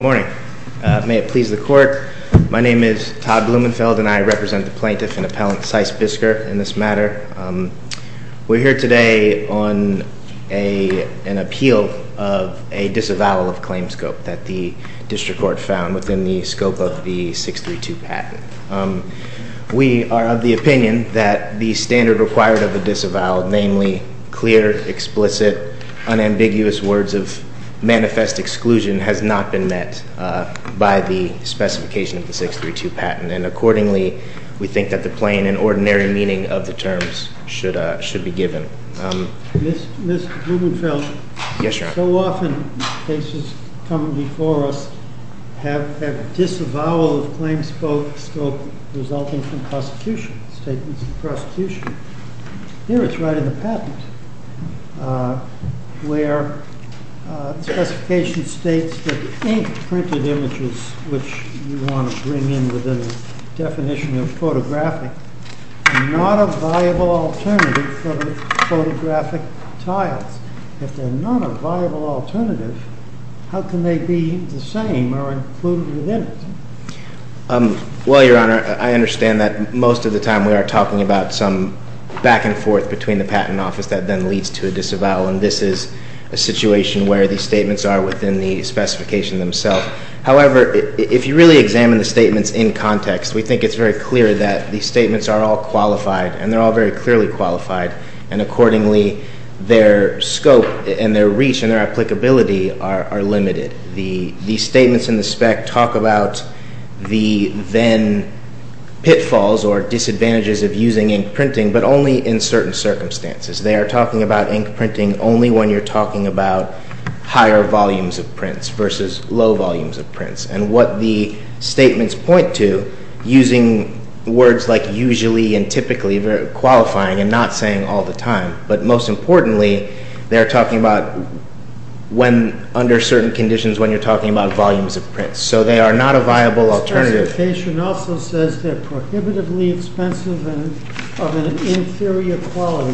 Good morning. May it please the Court, my name is Todd Blumenfeld and I represent the Plaintiff and Appellant Cies Bisker in this matter. We're here today on an appeal of a disavowal of claim scope that the District Court found within the scope of the 632 patent. We are of the opinion that the standard required of a disavowal, namely clear, explicit, unambiguous words of manifest exclusion, has not been met by the specification of the 632 patent. And accordingly, we think that the plain and ordinary meaning of the terms should be given. Mr. Blumenfeld, so often cases come before us have a disavowal of claim scope resulting from prosecution, statements of prosecution. Here it's right in the patent where the specification states that ink printed images, which you want to bring in within the definition of photographic, are not a viable alternative for the photographic tiles. If they're not a viable alternative, how can they be the same or included within it? Well, Your Honor, I understand that most of the time we are talking about some back and forth between the patent office that then leads to a disavowal. And this is a situation where the statements are within the specification themselves. However, if you really examine the statements in context, we think it's very clear that the statements are all qualified and they're all very clearly qualified. And accordingly, their scope and their reach and their applicability are limited. The statements in the spec talk about the then pitfalls or disadvantages of using ink printing, but only in certain circumstances. They are talking about ink printing only when you're talking about higher volumes of prints versus low volumes of prints. And what the statements point to, using words like usually and typically, qualifying and not saying all the time. But most importantly, they're talking about under certain conditions when you're talking about volumes of prints. So they are not a viable alternative. The specification also says they're prohibitively expensive and of an inferior quality.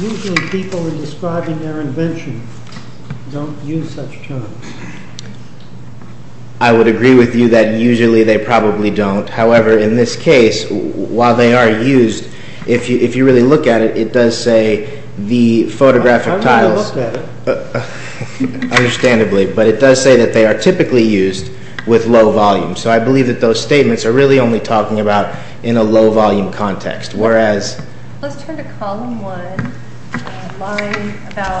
Usually people in describing their invention don't use such terms. I would agree with you that usually they probably don't. However, in this case, while they are used, if you really look at it, it does say the photographic tiles. I'm going to look at it. Understandably, but it does say that they are typically used with low volumes. So I believe that those statements are really only talking about in a low volume context. Let's turn to column one, line about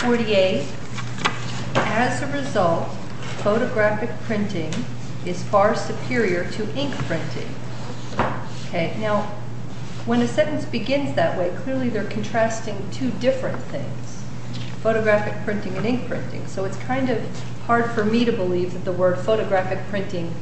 48. As a result, photographic printing is far superior to ink printing. Now, when a sentence begins that way, clearly they're contrasting two different things. Photographic printing and ink printing. So it's kind of hard for me to believe that the word photographic printing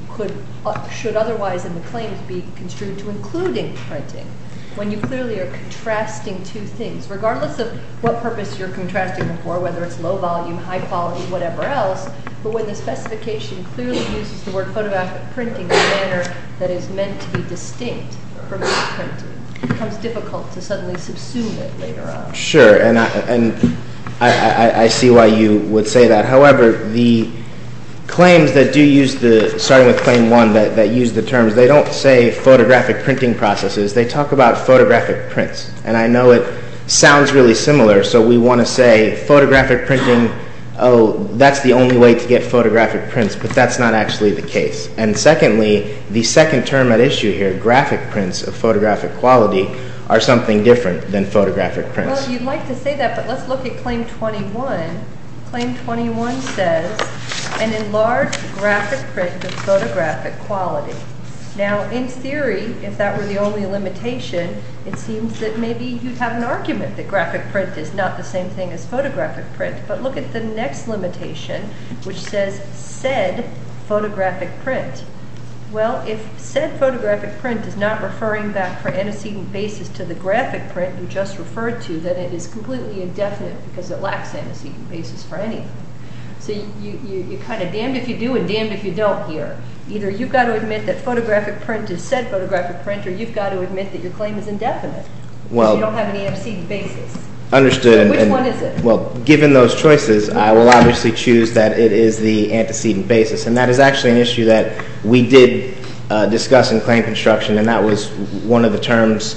should otherwise in the claims be construed to including printing. When you clearly are contrasting two things. Regardless of what purpose you're contrasting them for, whether it's low volume, high quality, whatever else, but when the specification clearly uses the word photographic printing in a manner that is meant to be distinct from ink printing, it becomes difficult to suddenly subsume it later on. Sure, and I see why you would say that. However, the claims that do use the, starting with claim one, that use the terms, they don't say photographic printing processes, they talk about photographic prints. And I know it sounds really similar, so we want to say photographic printing, oh, that's the only way to get photographic prints, but that's not actually the case. And secondly, the second term at issue here, graphic prints of photographic quality, are something different than photographic prints. Well, you'd like to say that, but let's look at claim 21. Claim 21 says, an enlarged graphic print of photographic quality. Now, in theory, if that were the only limitation, it seems that maybe you'd have an argument that graphic print is not the same thing as photographic print, but look at the next limitation, which says said photographic print. Well, if said photographic print is not referring back for antecedent basis to the graphic print you just referred to, then it is completely indefinite because it lacks antecedent basis for anything. So you're kind of damned if you do and damned if you don't here. Either you've got to admit that photographic print is said photographic print, or you've got to admit that your claim is indefinite because you don't have any antecedent basis. Understood. Which one is it? Well, given those choices, I will obviously choose that it is the antecedent basis, and that is actually an issue that we did discuss in claim construction, and that was one of the terms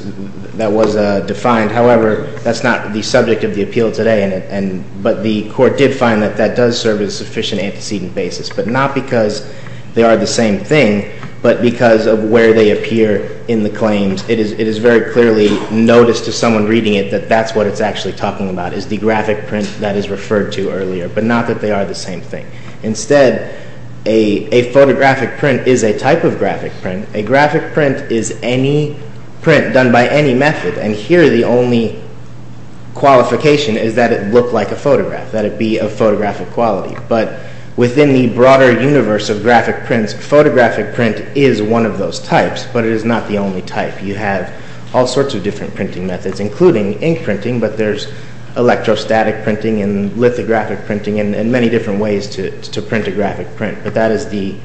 that was defined. However, that's not the subject of the appeal today, but the court did find that that does serve as sufficient antecedent basis, but not because they are the same thing, but because of where they appear in the claims. It is very clearly noticed to someone reading it that that's what it's actually talking about, is the graphic print that is referred to earlier, but not that they are the same thing. Instead, a photographic print is a type of graphic print. A graphic print is any print done by any method, and here the only qualification is that it look like a photograph, that it be of photographic quality. But within the broader universe of graphic prints, photographic print is one of those types, but it is not the only type. You have all sorts of different printing methods, including ink printing, but there's electrostatic printing and lithographic printing and many different ways to print a graphic print, but that is the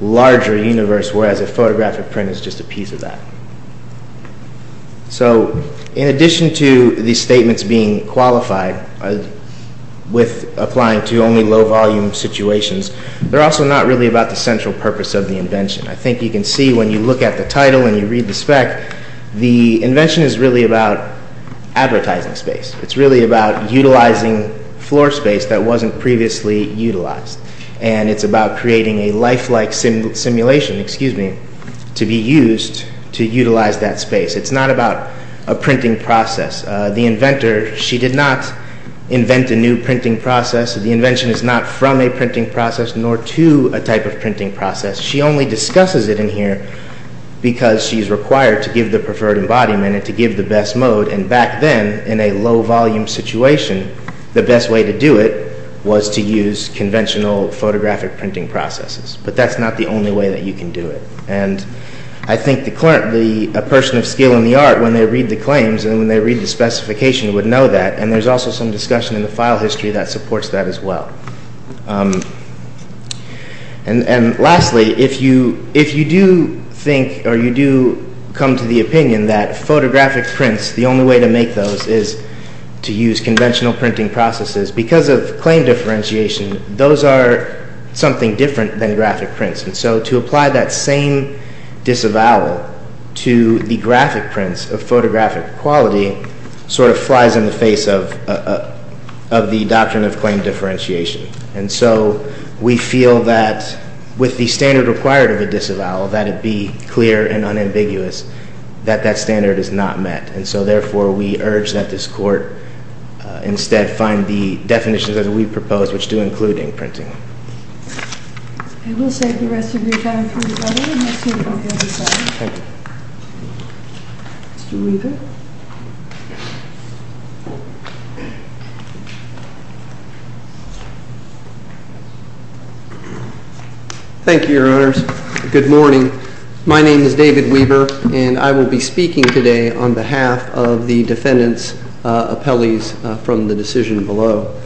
larger universe, whereas a photographic print is just a piece of that. So, in addition to these statements being qualified with applying to only low-volume situations, they're also not really about the central purpose of the invention. I think you can see when you look at the title and you read the spec, the invention is really about advertising space. It's really about utilizing floor space that wasn't previously utilized, and it's about creating a lifelike simulation to be used to utilize that space. It's not about a printing process. The inventor, she did not invent a new printing process. The invention is not from a printing process nor to a type of printing process. She only discusses it in here because she's required to give the preferred embodiment and to give the best mode, and back then, in a low-volume situation, the best way to do it was to use conventional photographic printing processes, but that's not the only way that you can do it. I think a person of skill in the art, when they read the claims and when they read the specification, would know that, and there's also some discussion in the file history that supports that as well. And lastly, if you do think or you do come to the opinion that photographic prints, the only way to make those is to use conventional printing processes, because of claim differentiation, those are something different than graphic prints, and so to apply that same disavowal to the graphic prints of photographic quality sort of flies in the face of the doctrine of claim differentiation. And so we feel that, with the standard required of a disavowal, that it be clear and unambiguous that that standard is not met, and so therefore we urge that this court instead find the definitions that we propose, which do include ink printing. I will save the rest of your time for the other one. Thank you. Mr. Weaver? Thank you, Your Honors. Good morning. My name is David Weaver, and I will be speaking today on behalf of the defendant's appellees from the decision below.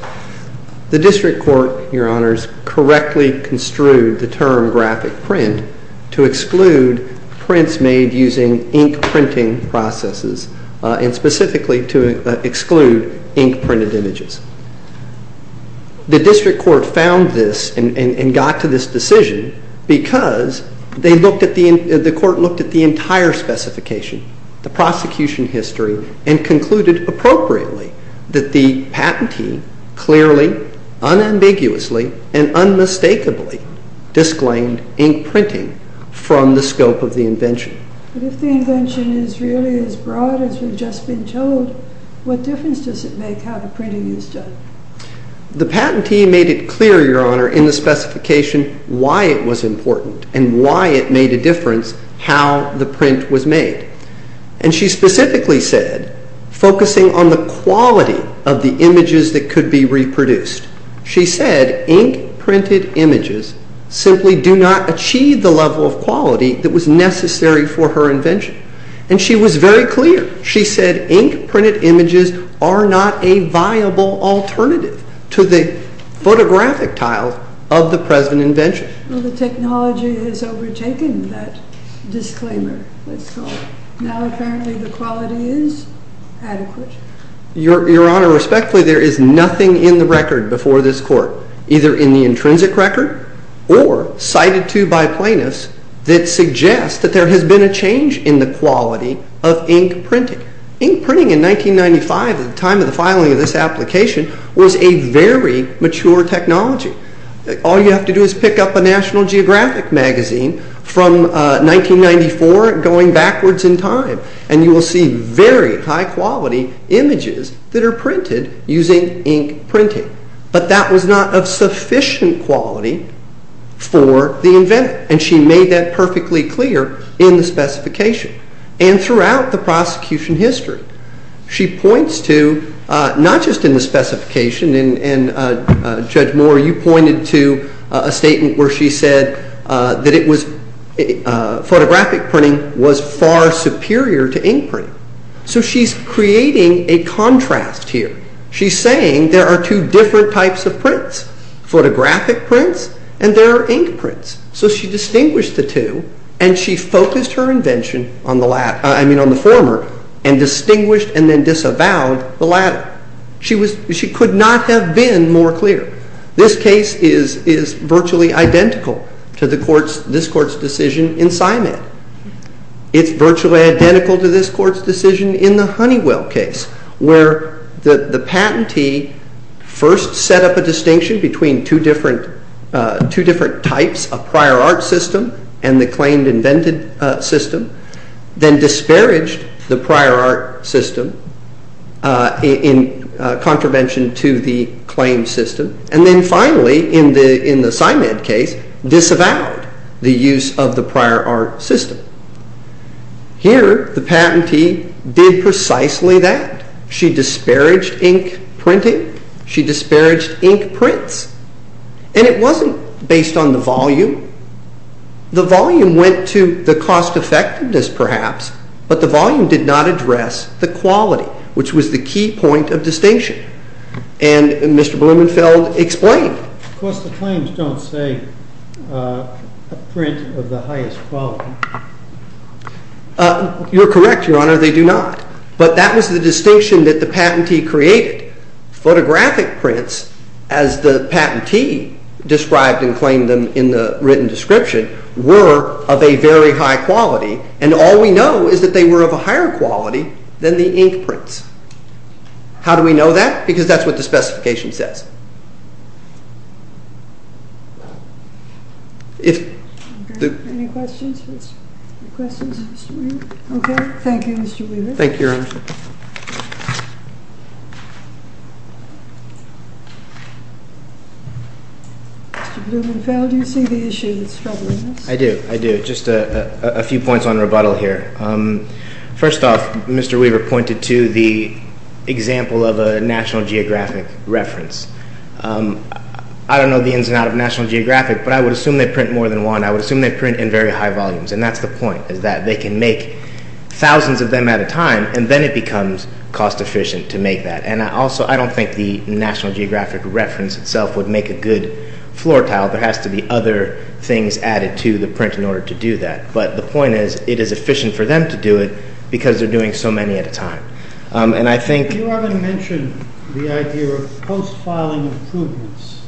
The district court, Your Honors, correctly construed the term graphic print to exclude prints made using ink printing processes and specifically to exclude ink printed images. The district court found this and got to this decision because the court looked at the entire specification, the prosecution history, and concluded appropriately that the patentee clearly, unambiguously, and unmistakably disclaimed ink printing from the scope of the invention. But if the invention is really as broad as we've just been told, what difference does it make how the printing is done? The patentee made it clear, Your Honor, in the specification why it was important and why it made a difference how the print was made. And she specifically said, focusing on the quality of the images that could be reproduced, she said ink printed images simply do not achieve the level of quality that was necessary for her invention. And she was very clear. She said ink printed images are not a viable alternative to the photographic tiles of the present invention. Well, the technology has overtaken that disclaimer, let's call it. Now apparently the quality is adequate. Your Honor, respectfully, there is nothing in the record before this court, either in the intrinsic record or cited to by plaintiffs, that suggests that there has been a change in the quality of ink printing. Ink printing in 1995, at the time of the filing of this application, was a very mature technology. All you have to do is pick up a National Geographic magazine from 1994, going backwards in time, and you will see very high quality images that are printed using ink printing. But that was not of sufficient quality for the inventor. And she made that perfectly clear in the specification and throughout the prosecution history. She points to, not just in the specification, and Judge Moore, you pointed to a statement where she said that photographic printing was far superior to ink printing. So she's creating a contrast here. She's saying there are two different types of prints, photographic prints and there are ink prints. So she distinguished the two and she focused her invention on the former and distinguished and then disavowed the latter. She could not have been more clear. This case is virtually identical to this court's decision in Simon. It's virtually identical to this court's decision in the Honeywell case, where the patentee first set up a distinction between two different types of prior art system and the claimed invented system, then disparaged the prior art system in contravention to the claimed system, and then finally, in the Simon case, disavowed the use of the prior art system. Here, the patentee did precisely that. She disparaged ink printing. She disparaged ink prints. And it wasn't based on the volume. The volume went to the cost effectiveness, perhaps, but the volume did not address the quality, which was the key point of distinction. And Mr. Blumenfeld explained. Of course, the claims don't say a print of the highest quality. You're correct, Your Honor, they do not. But that was the distinction that the patentee created. Photographic prints, as the patentee described and claimed them in the written description, were of a very high quality, and all we know is that they were of a higher quality than the ink prints. How do we know that? Because that's what the specification says. Any questions? Okay, thank you, Mr. Weaver. Thank you, Your Honor. Mr. Blumenfeld, do you see the issue that's troubling us? I do, I do. Just a few points on rebuttal here. First off, Mr. Weaver pointed to the example of a National Geographic reference. I don't know the ins and outs of National Geographic, but I would assume they print more than one. I would assume they print in very high volumes, and that's the point is that they can make thousands of them at a time, and then it becomes cost-efficient to make that. And also, I don't think the National Geographic reference itself would make a good floor tile. There has to be other things added to the print in order to do that. But the point is, it is efficient for them to do it because they're doing so many at a time. And I think— You already mentioned the idea of post-filing improvements,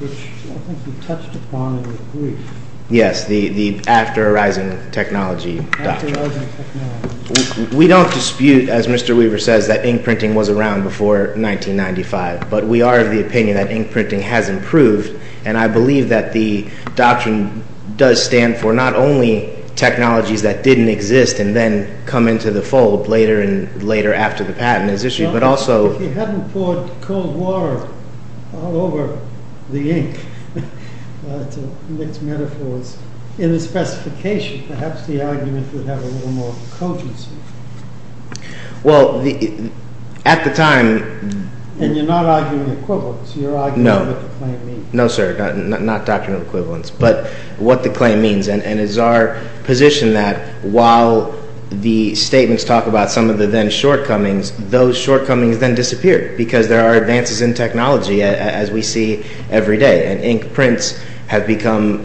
which I think you touched upon in your brief. Yes, the after-arising technology doctrine. After-arising technology. We don't dispute, as Mr. Weaver says, that ink printing was around before 1995, but we are of the opinion that ink printing has improved, and I believe that the doctrine does stand for not only technologies that didn't exist and then come into the fold later and later after the patent is issued, but also— If you hadn't poured cold water all over the ink, it's a mixed metaphor. In the specification, perhaps the argument would have a little more cogency. Well, at the time— And you're not arguing equivalence. You're arguing what the claim means. No, sir, not doctrinal equivalence, but what the claim means. And it's our position that while the statements talk about some of the then-shortcomings, those shortcomings then disappear because there are advances in technology, as we see every day, and ink prints have become—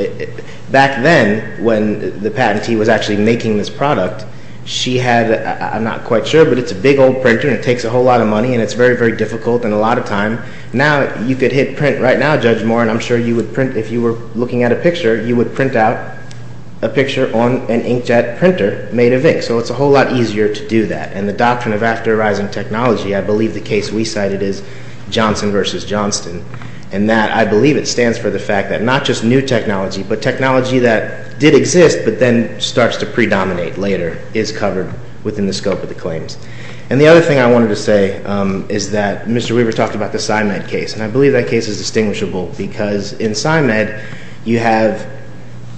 Back then, when the patentee was actually making this product, she had—I'm not quite sure, but it's a big old printer, and it takes a whole lot of money, and it's very, very difficult, and a lot of time. Now you could hit print right now, Judge Moore, and I'm sure you would print— If you were looking at a picture, you would print out a picture on an inkjet printer made of ink, so it's a whole lot easier to do that. And the doctrine of after-arising technology, I believe the case we cited is Johnson v. Johnston, and that I believe it stands for the fact that not just new technology, but technology that did exist but then starts to predominate later is covered within the scope of the claims. And the other thing I wanted to say is that Mr. Weaver talked about the PsyMed case, and I believe that case is distinguishable because in PsyMed, you have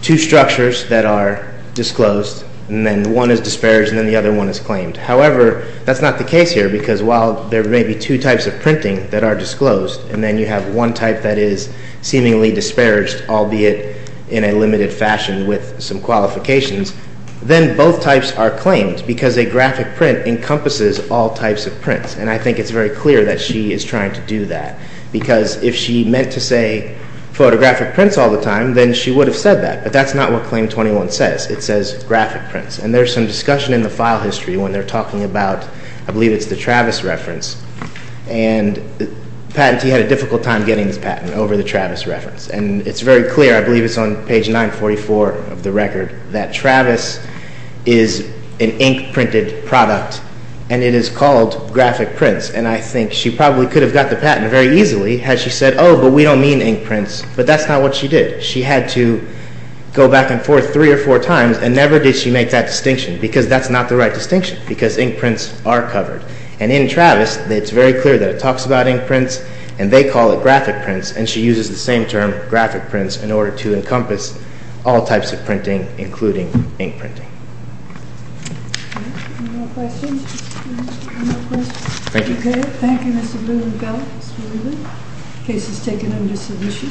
two structures that are disclosed, and then one is disparaged, and then the other one is claimed. However, that's not the case here because while there may be two types of printing that are disclosed, and then you have one type that is seemingly disparaged, albeit in a limited fashion with some qualifications, then both types are claimed because a graphic print encompasses all types of prints, and I think it's very clear that she is trying to do that because if she meant to say photographic prints all the time, then she would have said that, but that's not what Claim 21 says. It says graphic prints, and there's some discussion in the file history when they're talking about, I believe it's the Travis reference, and the patentee had a difficult time getting this patent over the Travis reference, and it's very clear, I believe it's on page 944 of the record, that Travis is an ink-printed product, and it is called graphic prints, and I think she probably could have got the patent very easily had she said, oh, but we don't mean ink prints, but that's not what she did. She had to go back and forth three or four times, and never did she make that distinction because that's not the right distinction because ink prints are covered, and in Travis, it's very clear that it talks about ink prints, and they call it graphic prints, and she uses the same term, graphic prints, in order to encompass all types of printing, including ink printing. Any more questions? Thank you. Okay, thank you, Mr. Blumenfeld, Mr. Blumen. Case is taken under submission.